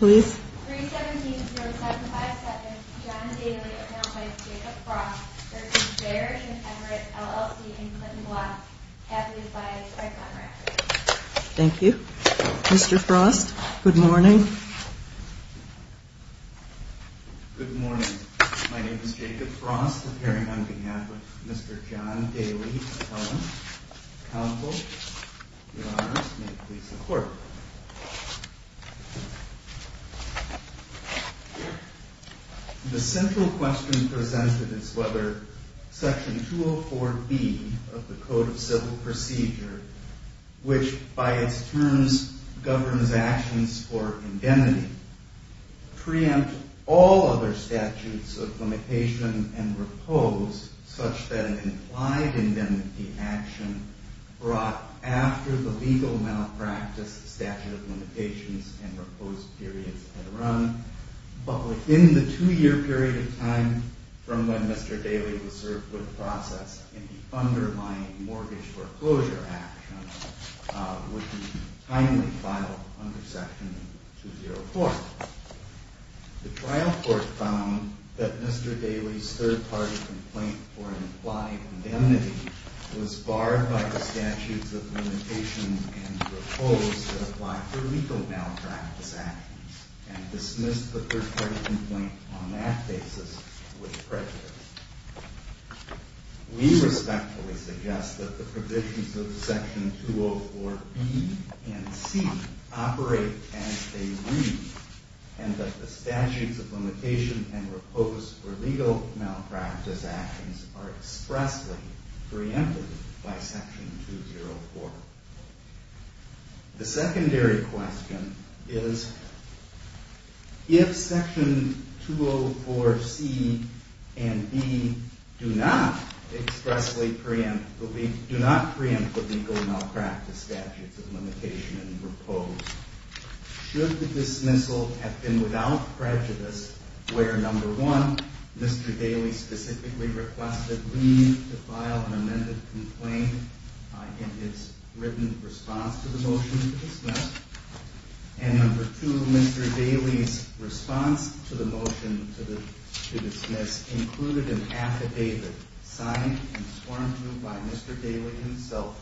317-0757, John Daly, acknowledged by Jacob Frost, v. Barash and Everett, LLC, in Clinton Block, heavily advised by Conrad. Thank you. Mr. Frost, good morning. Good morning. My name is Jacob Frost, appearing on behalf of Mr. John Daly, counsel. Your Honors, may it please the Court. The central question presented is whether Section 204B of the Code of Civil Procedure, which by its terms governs actions for indemnity, preempt all other statutes of limitation and repose such that an implied indemnity action brought after the legal malpractice statute of limitations and repose periods had run, but within the two-year period of time from when Mr. Daly was served with process in the underlying mortgage foreclosure action, would be timely filed under Section 204. The trial court found that Mr. Daly's third-party complaint for an implied indemnity was barred by the statutes of limitations and repose that apply for legal malpractice actions and dismissed the third-party complaint on that basis with prejudice. We respectfully suggest that the provisions of Section 204B and C operate as they read and that the statutes of limitation and repose for legal malpractice actions are expressly preempted by Section 204. The secondary question is if Section 204C and C do not expressly preempt the legal malpractice statutes of limitation and repose, should the dismissal have been without prejudice where, number one, Mr. Daly specifically requested leave to file an amended complaint in his written response to the motion to dismiss, and number two, Mr. Daly's response to the motion to dismiss included an affidavit signed and sworn to by Mr. Daly himself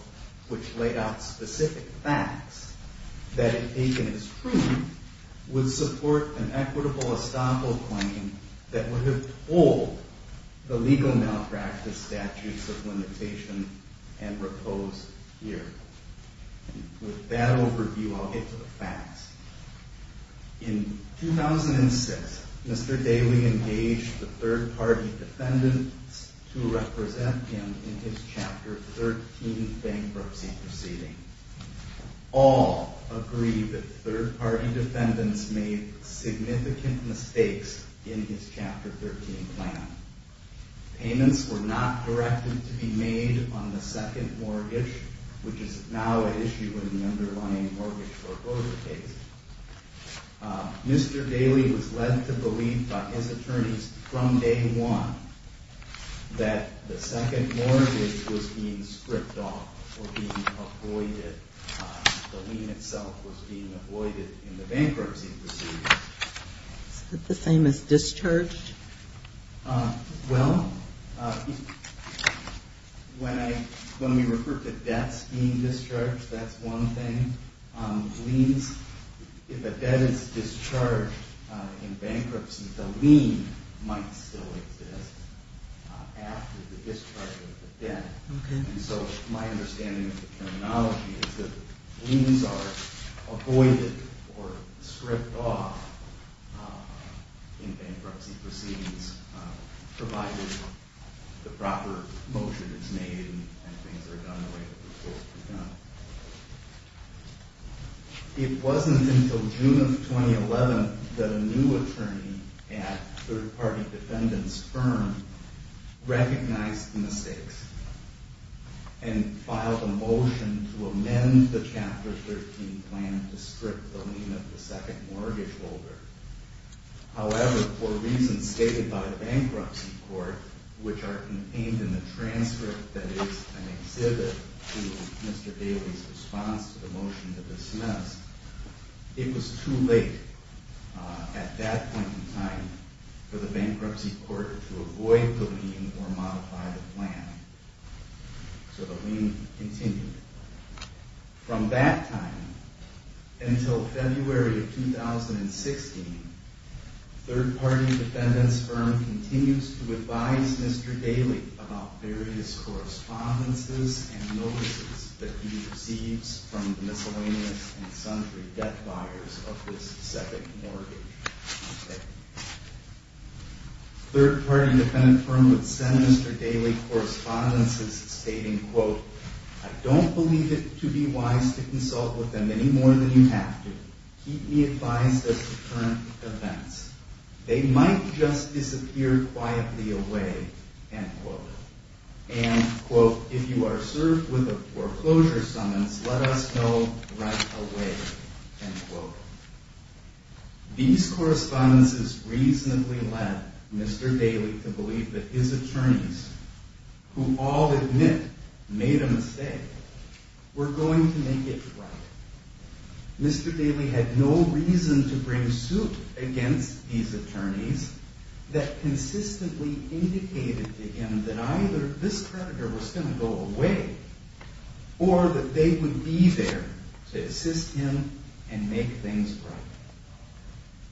which laid out specific facts that, if taken as true, would support an equitable estoppel claim that would have told the legal malpractice statutes of limitation and repose here. With that overview, I'll get to the facts. In 2006, Mr. Daly engaged the third-party defendants to represent him in his Chapter 13 bankruptcy proceeding. All agreed that third-party defendants made significant mistakes in his Chapter 13 plan. Payments were not directed to be made on the second mortgage, which is now an issue in the underlying mortgage foreclosure case. Mr. Daly was led to believe by his attorneys from day one that the second mortgage was being stripped off or being avoided. The lien itself was being avoided in the bankruptcy proceeding. Is it the same as discharged? Well, when we refer to debts being discharged, that's one thing. If a debt is discharged in bankruptcy, the lien might still exist after the discharge of the debt. So my understanding of the terminology is that liens are avoided or stripped off in bankruptcy proceedings, provided the proper motion is made and things are done the way that they're supposed to be done. It wasn't until June of 2011 that a new attorney at third-party defendants' firm recognized the mistakes and filed a motion to amend the Chapter 13 plan to strip the lien of the second mortgage holder. However, for reasons stated by the bankruptcy court, which are contained in the transcript that is an exhibit to Mr. Daly's response to the motion to dismiss, it was too late at that point in time for the bankruptcy court to avoid the lien or modify the plan. So the lien continued. From that time until February of 2016, third-party defendants' firm continues to advise Mr. Daly about various correspondences and notices that he receives from the miscellaneous and sundry debt buyers of this second mortgage. Third-party defendants' firm would send Mr. Daly correspondences stating, quote, I don't believe it to be wise to consult with them any more than you have to. Keep me advised as to current events. They might just disappear quietly away, end quote. And, quote, if you are served with a foreclosure summons, let us know right away, end quote. These correspondences reasonably led Mr. Daly to believe that his attorneys, who all admit made a mistake, were going to make it right. Mr. Daly had no reason to bring suit against these attorneys that consistently indicated to him that either this creditor was going to go away or that they would be there to assist him and make things right.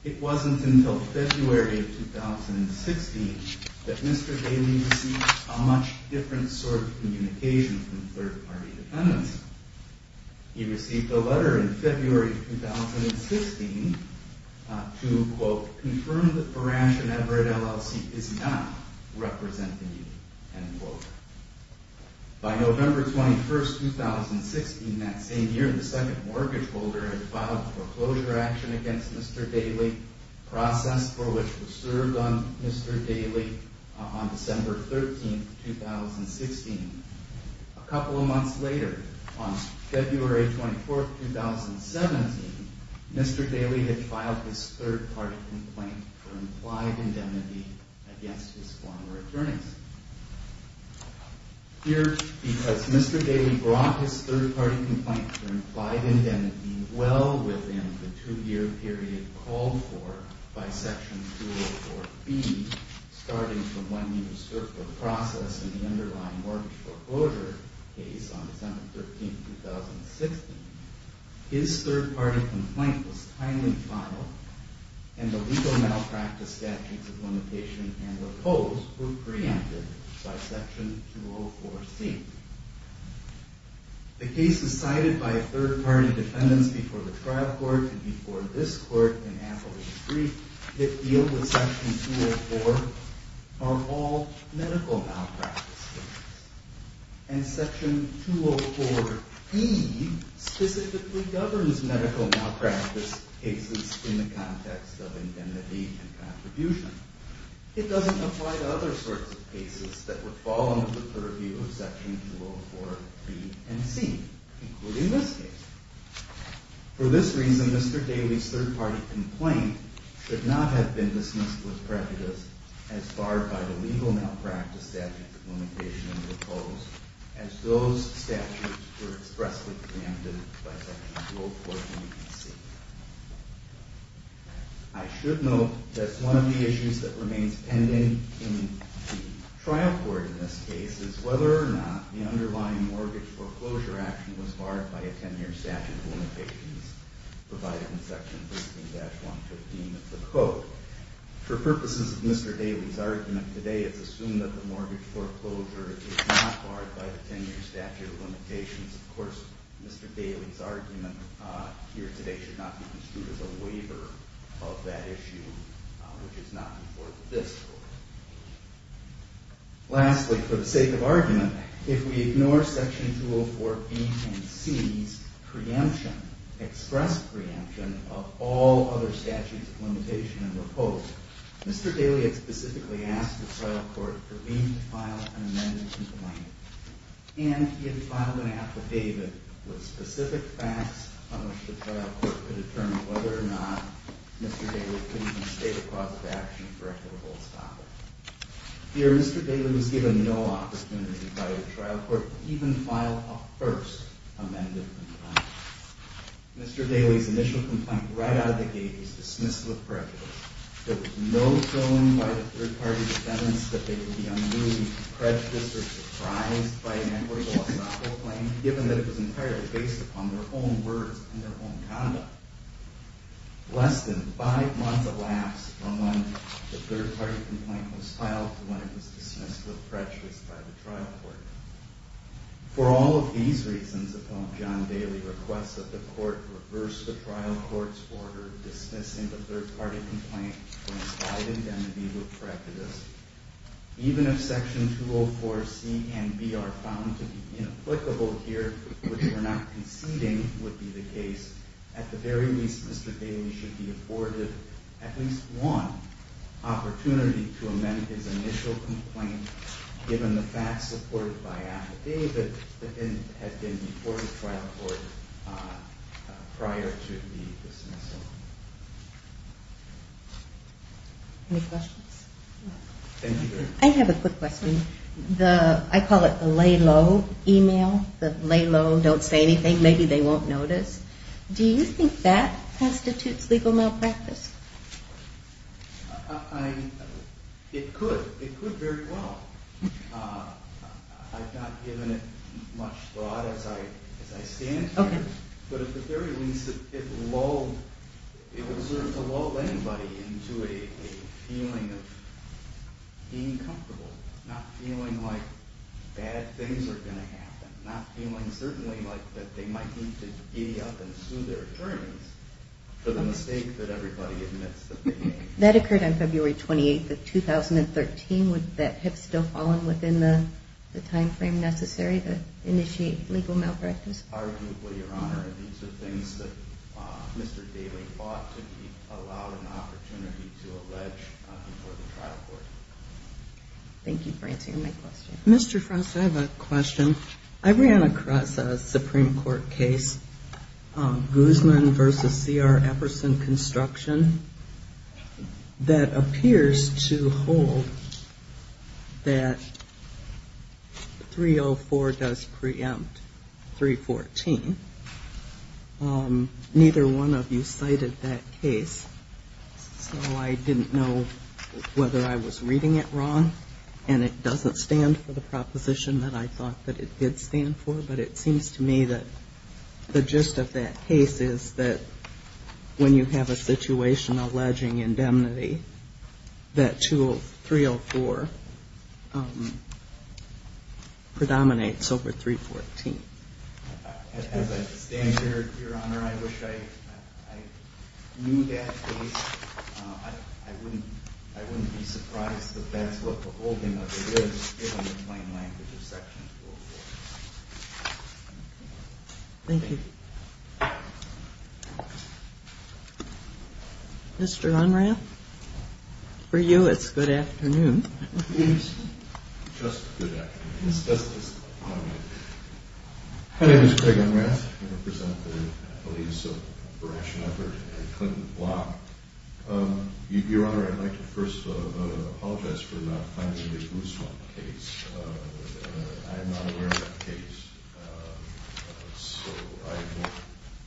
It wasn't until February of 2016 that Mr. Daly received a much different sort of communication from third-party defendants. He received a letter in February of 2016 to, quote, confirm that Baranch and Everett LLC is not representing him, end quote. By November 21, 2016, that same year, the second mortgage holder had filed a foreclosure action against Mr. Daly, a process for which was served on Mr. Daly on December 13, 2016. A couple of months later, on February 24, 2017, Mr. Daly had filed his third-party complaint for implied indemnity against his former attorneys. Here, because Mr. Daly brought his third-party complaint for implied indemnity well within the two-year period called for by Section 204B, starting from when he was served the process in the underlying mortgage foreclosure case on December 13, 2016, his third-party complaint was timely filed and the legal malpractice statutes of limitation and oppose were preempted by Section 204C. The cases cited by third-party defendants before the trial court and before this court in Appleton Street that deal with Section 204 are all medical malpractice cases. And Section 204B specifically governs medical malpractice cases in the context of indemnity and contribution. It doesn't apply to other sorts of cases that would fall under the purview of Section 204B and C, including this case. For this reason, Mr. Daly's third-party complaint should not have been dismissed with prejudice as barred by the legal malpractice statutes of limitation and oppose, as those statutes were expressly preempted by Section 204B and C. I should note that one of the issues that remains pending in the trial court in this case is whether or not the underlying mortgage foreclosure action was barred by a 10-year statute of limitations provided in Section 15-115 of the Code. For purposes of Mr. Daly's argument today, it's assumed that the mortgage foreclosure is not barred by the 10-year statute of limitations. Of course, Mr. Daly's argument here today should not be construed as a waiver of that issue, which is not before this Court. Lastly, for the sake of argument, if we ignore Section 204B and C's preemption, express preemption, of all other statutes of limitation and oppose, Mr. Daly had specifically asked the trial court for me to file an amended complaint, and he had filed an affidavit with specific facts on which the trial court could determine whether or not Mr. Daly could even state a cause of action for equitable stoppage. Here, Mr. Daly was given no opportunity by the trial court to even file a first amended complaint. Mr. Daly's initial complaint, right out of the gate, was dismissed with prejudice. There was no film by the third party that demonstrated that they would be unruly, prejudiced, or surprised by an equitable estoppel claim, given that it was entirely based upon their own words and their own conduct. Less than five months elapsed from when the third party complaint was filed to when it was dismissed with prejudice by the trial court. For all of these reasons, upon John Daly's request that the court reverse the trial court's order dismissing the third party complaint, when it's filed indemnity, with prejudice, even if Section 204C and C are found to be inapplicable here, which we're not conceding would be the case, at the very least, Mr. Daly should be afforded at least one opportunity to amend his initial complaint, given the fact supported by affidavit that had been before the trial court prior to the dismissal. Any questions? Thank you very much. I have a quick question. I call it the lay low email. The lay low, don't say anything, maybe they won't notice. Do you think that constitutes legal malpractice? It could. It could very well. I've not given it much thought as I stand here, but at the very least, it would serve to lull anybody into a feeling of being comfortable, not feeling like bad things are going to happen, not feeling certainly like that they might need to giddy up and sue their attorneys for the mistake that everybody admits that they made. That occurred on February 28th of 2013. Would that have still fallen within the timeframe necessary to initiate legal malpractice? Arguably, Your Honor. These are things that Mr. Daly ought to be allowed an opportunity to allege before the trial court. Thank you for answering my question. Mr. Frost, I have a question. I ran across a Supreme Court case, Guzman v. C.R. Epperson Construction, that appears to hold that 304 does preempt 314. Neither one of you cited that case, so I didn't know whether I was reading it wrong, and it doesn't stand for the proposition that I thought that it did stand for, but it seems to me that the gist of that case is that when you have a situation alleging indemnity, that 304 predominates over 314. As I stand here, Your Honor, I wish I knew that case. I wouldn't be surprised if that's what the holding of the case is, given the plain language of Section 304. Thank you. Mr. Unrath, for you it's good afternoon. It is just good afternoon. My name is Craig Unrath. I represent the police operation effort at Clinton Block. Your Honor, I'd like to first apologize for not finding the Guzman case. I'm not aware of the case, so I will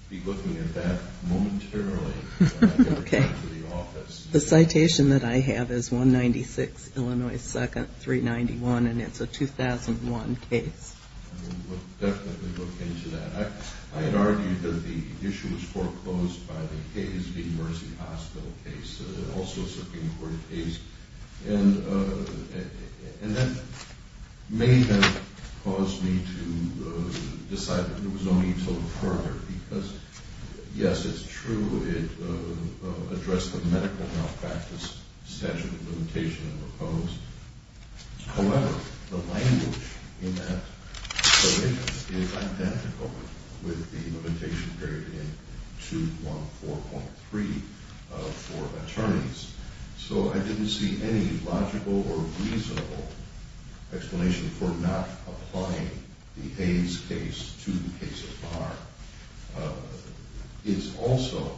be looking at that momentarily when I get back to the office. The citation that I have is 196 Illinois 2nd, 391, and it's a 2001 case. I will definitely look into that. I had argued that the issue was foreclosed by the Hayes v. Mercy Hospital case, also a Supreme Court case, and that may have caused me to decide that there was no need to look further, because, yes, it's true it addressed the medical malpractice statute of limitation and proposed. However, the language in that citation is identical with the limitation period in 214.3 for attorneys, so I didn't see any logical or reasonable explanation for not applying the Hayes case to the case at large. It's also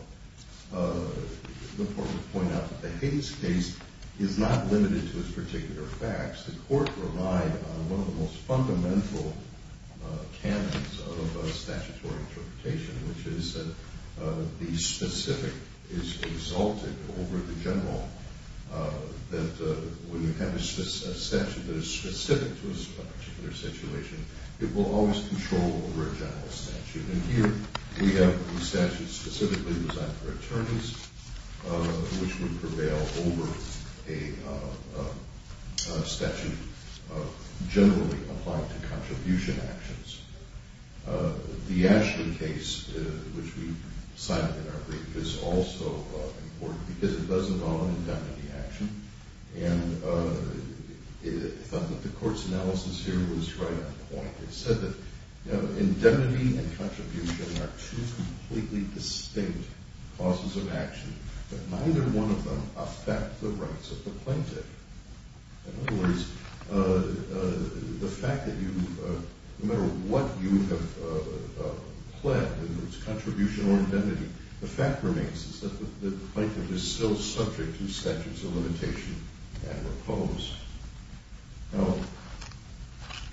important to point out that the Hayes case is not limited to its particular facts. The court relied on one of the most fundamental canons of statutory interpretation, which is that the specific is exalted over the general, that when you have a statute that is specific to a particular situation, it will always control over a general statute. And here we have a statute specifically designed for attorneys, which would prevail over a statute generally applying to contribution actions. The Ashley case, which we cited in our brief, is also important because it doesn't often condemn any action, and I thought that the court's analysis here was right on point. It said that indemnity and contribution are two completely distinct causes of action, but neither one of them affect the rights of the plaintiff. In other words, the fact that no matter what you have pled, whether it's contribution or indemnity, the fact remains that the plaintiff is still subject to statutes of limitation and repose. Now,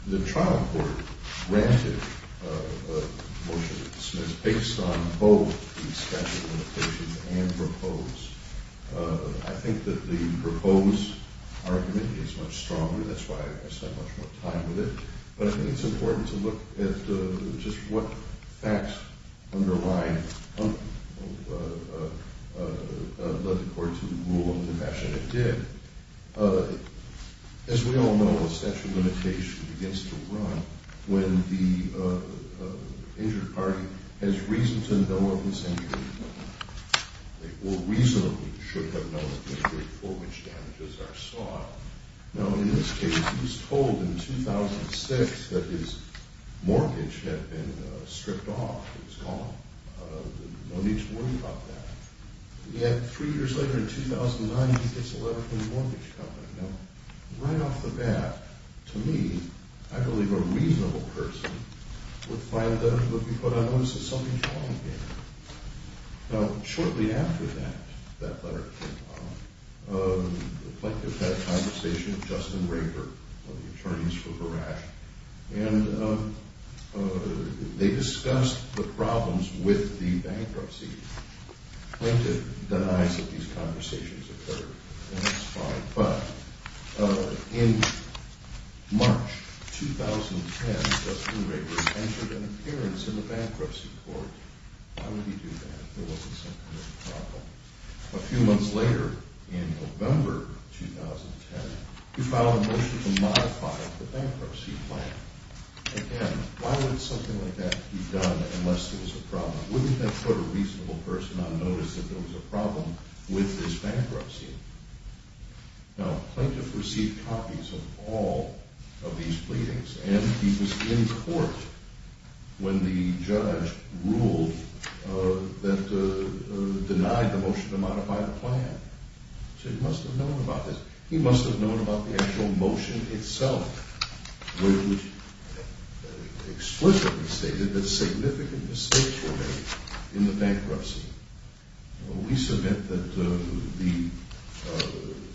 the trial court granted a motion of dismissal based on both the statute of limitation and repose. I think that the repose argument is much stronger. That's why I spent much more time with it. But I think it's important to look at just what facts underlie the court's rule of defection. It did. As we all know, a statute of limitation begins to run when the injured party has reason to know of the injury. They will reasonably should have known of the injury for which damages are sought. Now, in this case, he was told in 2006 that his mortgage had been stripped off. It was gone. No need to worry about that. Yet, three years later, in 2009, he gets a letter from the mortgage company. Now, right off the bat, to me, I believe a reasonable person would find that it would be put on notice that something's wrong here. Now, shortly after that, that letter came out. The plaintiff had a conversation with Justin Raper, one of the attorneys for Barak. And they discussed the problems with the bankruptcy. The plaintiff denies that these conversations occurred. And that's fine. In March 2010, Justin Raper entered an appearance in the bankruptcy court. Why would he do that if there wasn't some kind of problem? A few months later, in November 2010, he filed a motion to modify the bankruptcy plan. Again, why would something like that be done unless there was a problem? Wouldn't that put a reasonable person on notice that there was a problem with this bankruptcy? Now, the plaintiff received copies of all of these pleadings. And he was in court when the judge ruled that denied the motion to modify the plan. So he must have known about this. He must have known about the actual motion itself, which explicitly stated that significant mistakes were made in the bankruptcy. We submit that the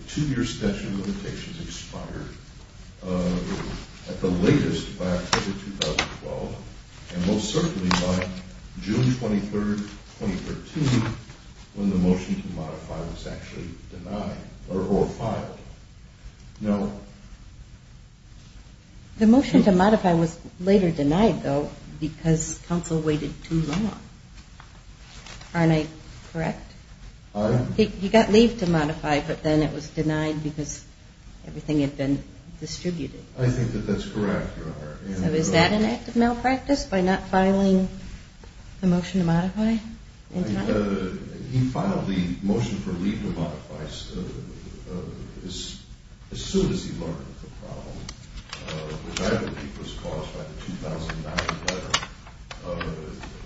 two-year statute of limitations expired at the latest by October 2012, and most certainly by June 23rd, 2013, when the motion to modify was actually denied or filed. The motion to modify was later denied, though, because counsel waited too long. Aren't I correct? I am. He got leave to modify, but then it was denied because everything had been distributed. I think that that's correct, Your Honor. So is that an act of malpractice, by not filing the motion to modify in time? He filed the motion for leave to modify as soon as he learned of the problem, which I believe was caused by the 2009 letter.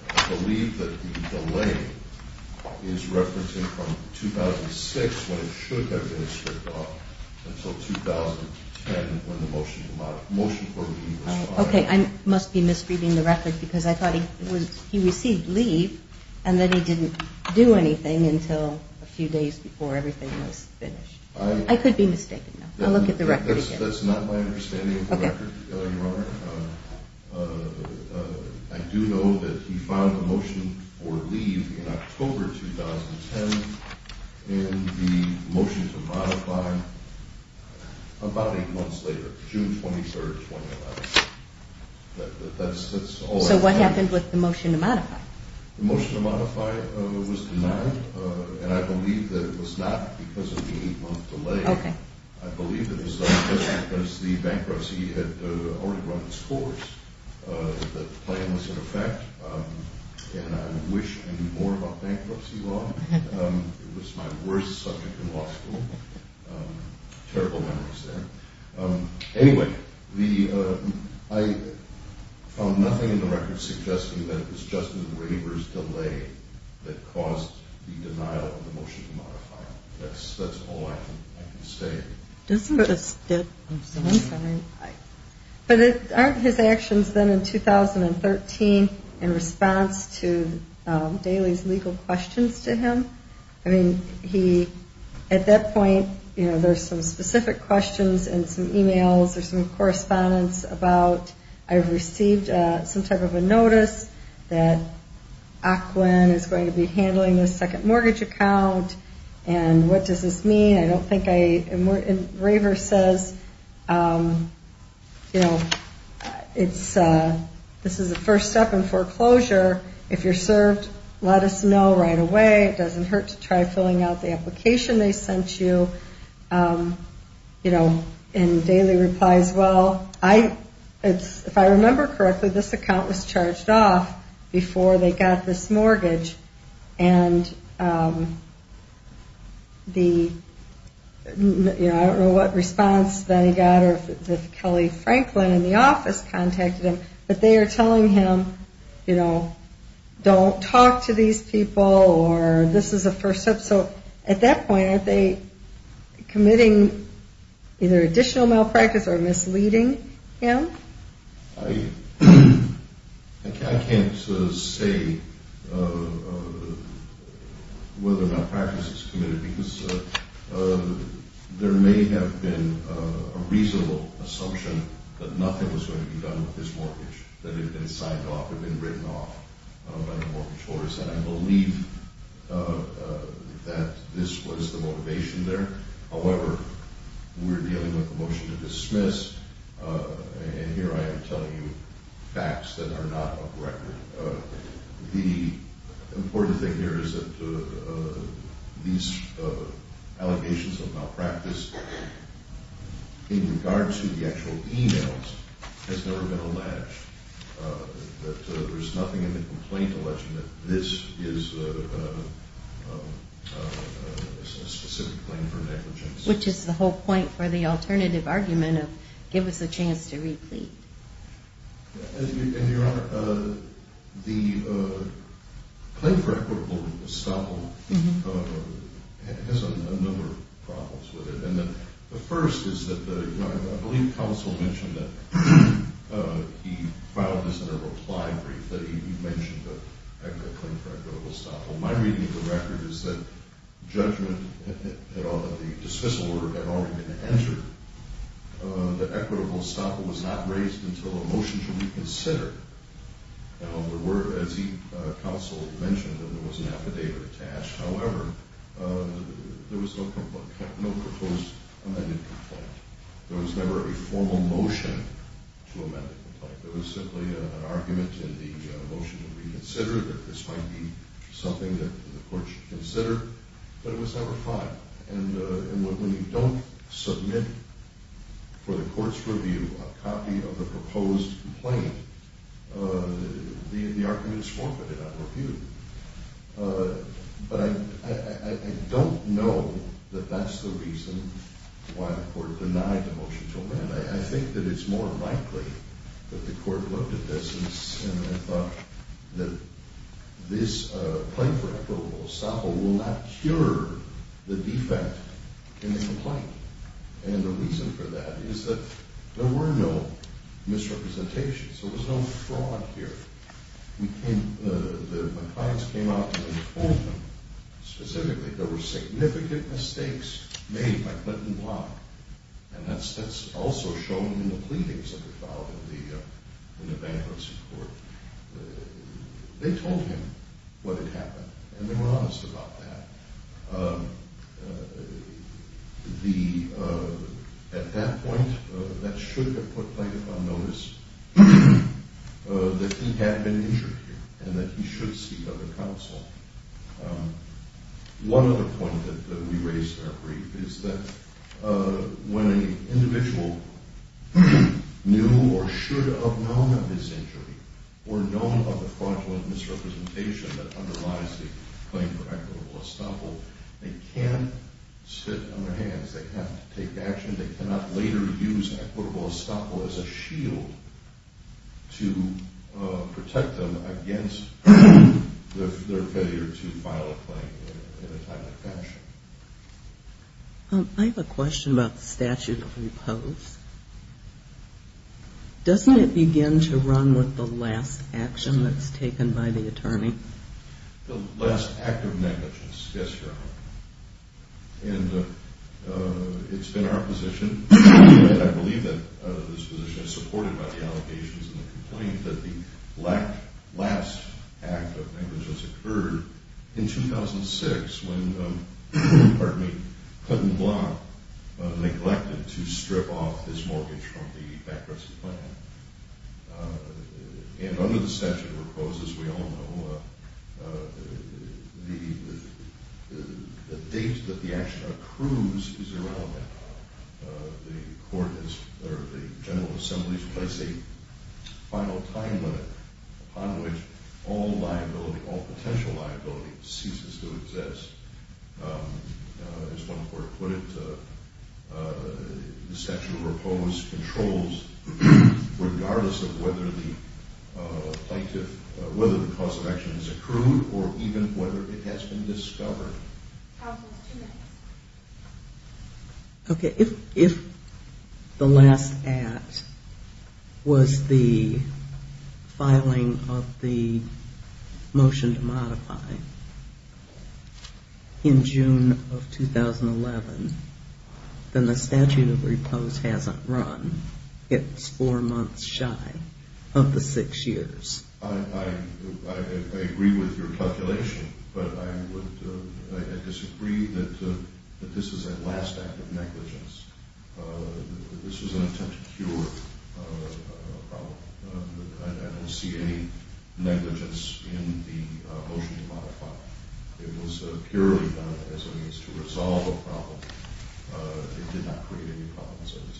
I believe that the delay is referencing from 2006, when it should have been stripped off, until 2010, when the motion for leave was filed. Okay, I must be misreading the record because I thought he received leave and then he didn't do anything until a few days before everything was finished. I could be mistaken, though. I'll look at the record again. That's not my understanding of the record, Your Honor. I do know that he filed the motion for leave in October 2010, and the motion to modify about eight months later, June 23rd, 2011. So what happened with the motion to modify? The motion to modify was denied, and I believe that it was not because of the eight-month delay. Okay. I believe that it was not just because the bankruptcy had already run its course, that the plan was in effect, and I wish I knew more about bankruptcy law. It was my worst subject in law school. Terrible memories there. Anyway, I found nothing in the record suggesting that it was just the waiver's delay that caused the denial of the motion to modify. That's all I can say. Doesn't this fit? I'm sorry. But aren't his actions then in 2013 in response to Daley's legal questions to him? I mean, at that point, you know, there's some specific questions and some e-mails or some correspondence about I've received some type of a notice that Oclin is going to be handling the second mortgage account, and what does this mean? I don't think I – and Raver says, you know, it's – this is the first step in foreclosure. If you're served, let us know right away. It doesn't hurt to try filling out the application they sent you. You know, and Daley replies, well, if I remember correctly, this account was charged off before they got this mortgage, and the – I don't know what response then he got or if Kelly Franklin in the office contacted him, but they are telling him, you know, don't talk to these people or this is a first step. So at that point, aren't they committing either additional malpractice or misleading him? I can't say whether malpractice is committed because there may have been a reasonable assumption that nothing was going to be done with this mortgage, that it had been signed off, or it had been written off by the mortgage holders, and I believe that this was the motivation there. However, we're dealing with a motion to dismiss, and here I am telling you facts that are not up to record. The important thing here is that these allegations of malpractice in regard to the actual emails has never been alleged, that there's nothing in the complaint alleging that this is a specific claim for negligence. Which is the whole point for the alternative argument of give us a chance to replete. And, Your Honor, the claim for equitable estoppel has a number of problems with it, and the first is that I believe counsel mentioned that he filed this in a reply brief, that he mentioned the claim for equitable estoppel. My reading of the record is that judgment, the dismissal order had already been entered, that equitable estoppel was not raised until the motion should be considered. Now, there were, as counsel mentioned, there was an affidavit attached. However, there was no proposed amended complaint. There was never a formal motion to amend the complaint. There was simply an argument in the motion to reconsider that this might be something that the court should consider, but it was never filed. And when you don't submit for the court's review a copy of the proposed complaint, the argument is forfeited on review. But I don't know that that's the reason why the court denied the motion to amend. I think that it's more likely that the court looked at this and thought that this claim for equitable estoppel will not cure the defect in the complaint. And the reason for that is that there were no misrepresentations. There was no fraud here. My clients came out and told him specifically there were significant mistakes made by Clinton Block, and that's also shown in the pleadings that were filed in the bankruptcy court. They told him what had happened, and they were honest about that. At that point, that should have put Clinton on notice that he had been injured here and that he should seek other counsel. One other point that we raised in our brief is that when an individual knew or should have known of his injury or known of a fraudulent misrepresentation that underlies the claim for equitable estoppel, they can't sit on their hands. They have to take action. They cannot later use equitable estoppel as a shield to protect them against their failure to file a claim in a timely fashion. Doesn't it begin to run with the last action that's taken by the attorney? The last act of negligence, yes, Your Honor. And it's been our position, and I believe that this position is supported by the allegations in the complaint, that the last act of negligence occurred in 2006 when Clinton Block neglected to strip off his mortgage from the bankruptcy plan. And under the statute of proposals, we all know the date that the action accrues is irrelevant. The court has, or the General Assembly has placed a final time limit upon which all liability, all potential liability ceases to exist. As one court put it, the statute of proposals controls regardless of whether the plaintiff, whether the cause of action is accrued or even whether it has been discovered. Counsel, two minutes. Okay, if the last act was the filing of the motion to modify in June of 2011, then the statute of repose hasn't run. It's four months shy of the six years. I agree with your calculation, but I disagree that this is a last act of negligence. This was an attempt to cure a problem. I don't see any negligence in the motion to modify. It was purely done as a means to resolve a problem. It did not create any problems at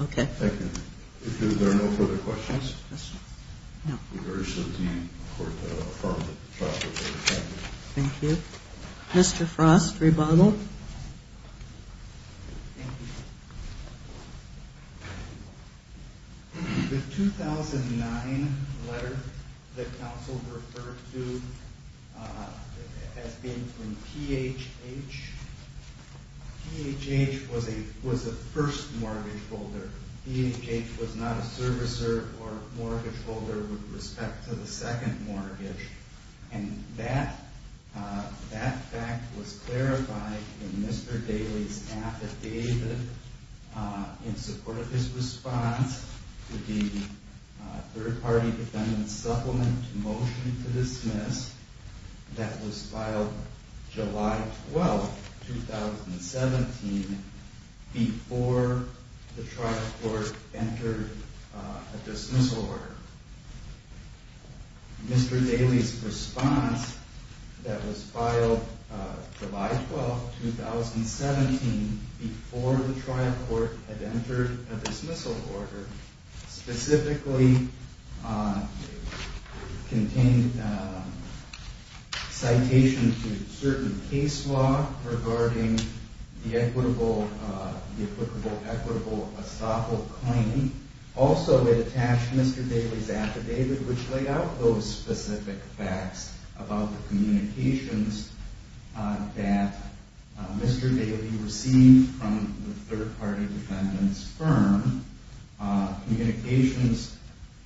all. Okay. Thank you. If there are no further questions, we urge the Court to afford the affirmative. Thank you. Mr. Frost, rebuttal. Thank you. The 2009 letter that counsel referred to has been from PHH. PHH was the first mortgage holder. PHH was not a servicer or mortgage holder with respect to the second mortgage. And that fact was clarified in Mr. Daley's affidavit in support of his response to the third-party defendant's supplement motion to dismiss that was filed July 12, 2017, before the trial court entered a dismissal order. Mr. Daley's response that was filed July 12, 2017, before the trial court had entered a dismissal order, specifically contained citations to certain case law regarding the equitable, the applicable equitable estoppel claim. Also, it attached Mr. Daley's affidavit, which laid out those specific facts about the communications that Mr. Daley received from the third-party defendant's firm, communications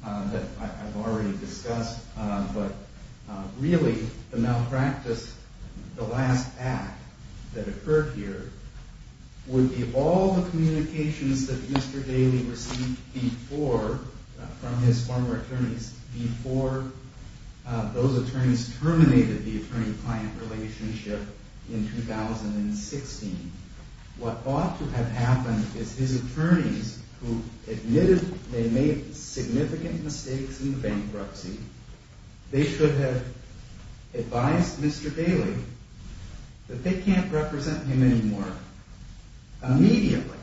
that I've already discussed, but really the malpractice, the last act that occurred here, would be all the communications that Mr. Daley received from his former attorneys before those attorneys terminated the attorney-client relationship in 2016. What ought to have happened is his attorneys, who admitted they made significant mistakes in the bankruptcy, they should have advised Mr. Daley that they can't represent him anymore. Immediately.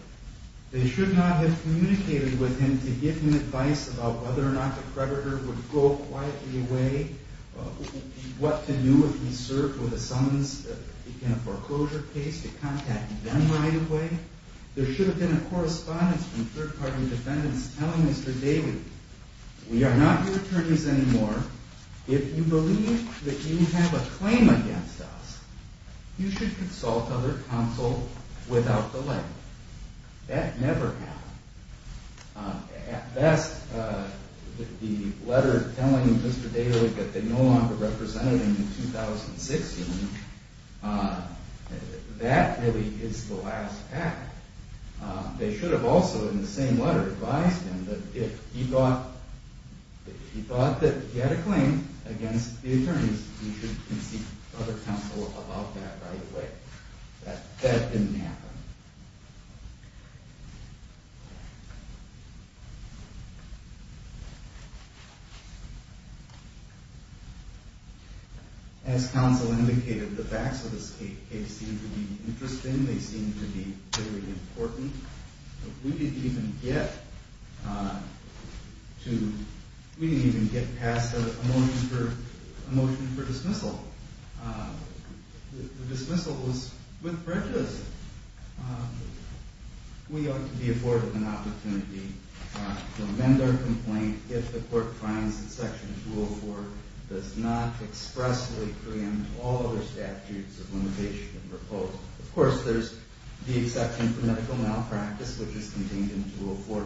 They should not have communicated with him to give him advice about whether or not the creditor would go quietly away, what to do if he served with a summons in a foreclosure case, to contact them right away. There should have been a correspondence from third-party defendants telling Mr. Daley, we are not your attorneys anymore. If you believe that you have a claim against us, you should consult other counsel without delay. That never happened. At best, the letter telling Mr. Daley that they no longer represented him in 2016, that really is the last act. They should have also, in the same letter, advised him that if he thought that he had a claim against the attorneys, he should concede to other counsel about that right away. That didn't happen. As counsel indicated, the facts of this case seem to be interesting. They seem to be very important. We didn't even get past a motion for dismissal. The dismissal was with prejudice. We ought to be afforded an opportunity to amend our complaint if the court finds that Section 204 does not expressly preempt all other statutes of limitation and repose. Of course, there's the exception for medical malpractice, which is contained in 204.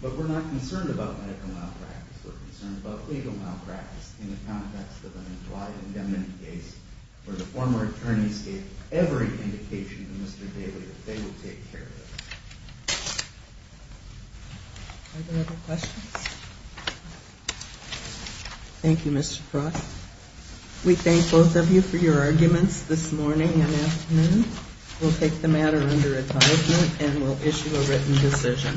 But we're not concerned about medical malpractice. We're concerned about legal malpractice in the context of an implied indemnity case where the former attorneys gave every indication to Mr. Daley that they would take care of it. Are there other questions? Thank you, Mr. Frost. We thank both of you for your arguments this morning and afternoon. We'll take the matter under advisement and we'll issue a written decision.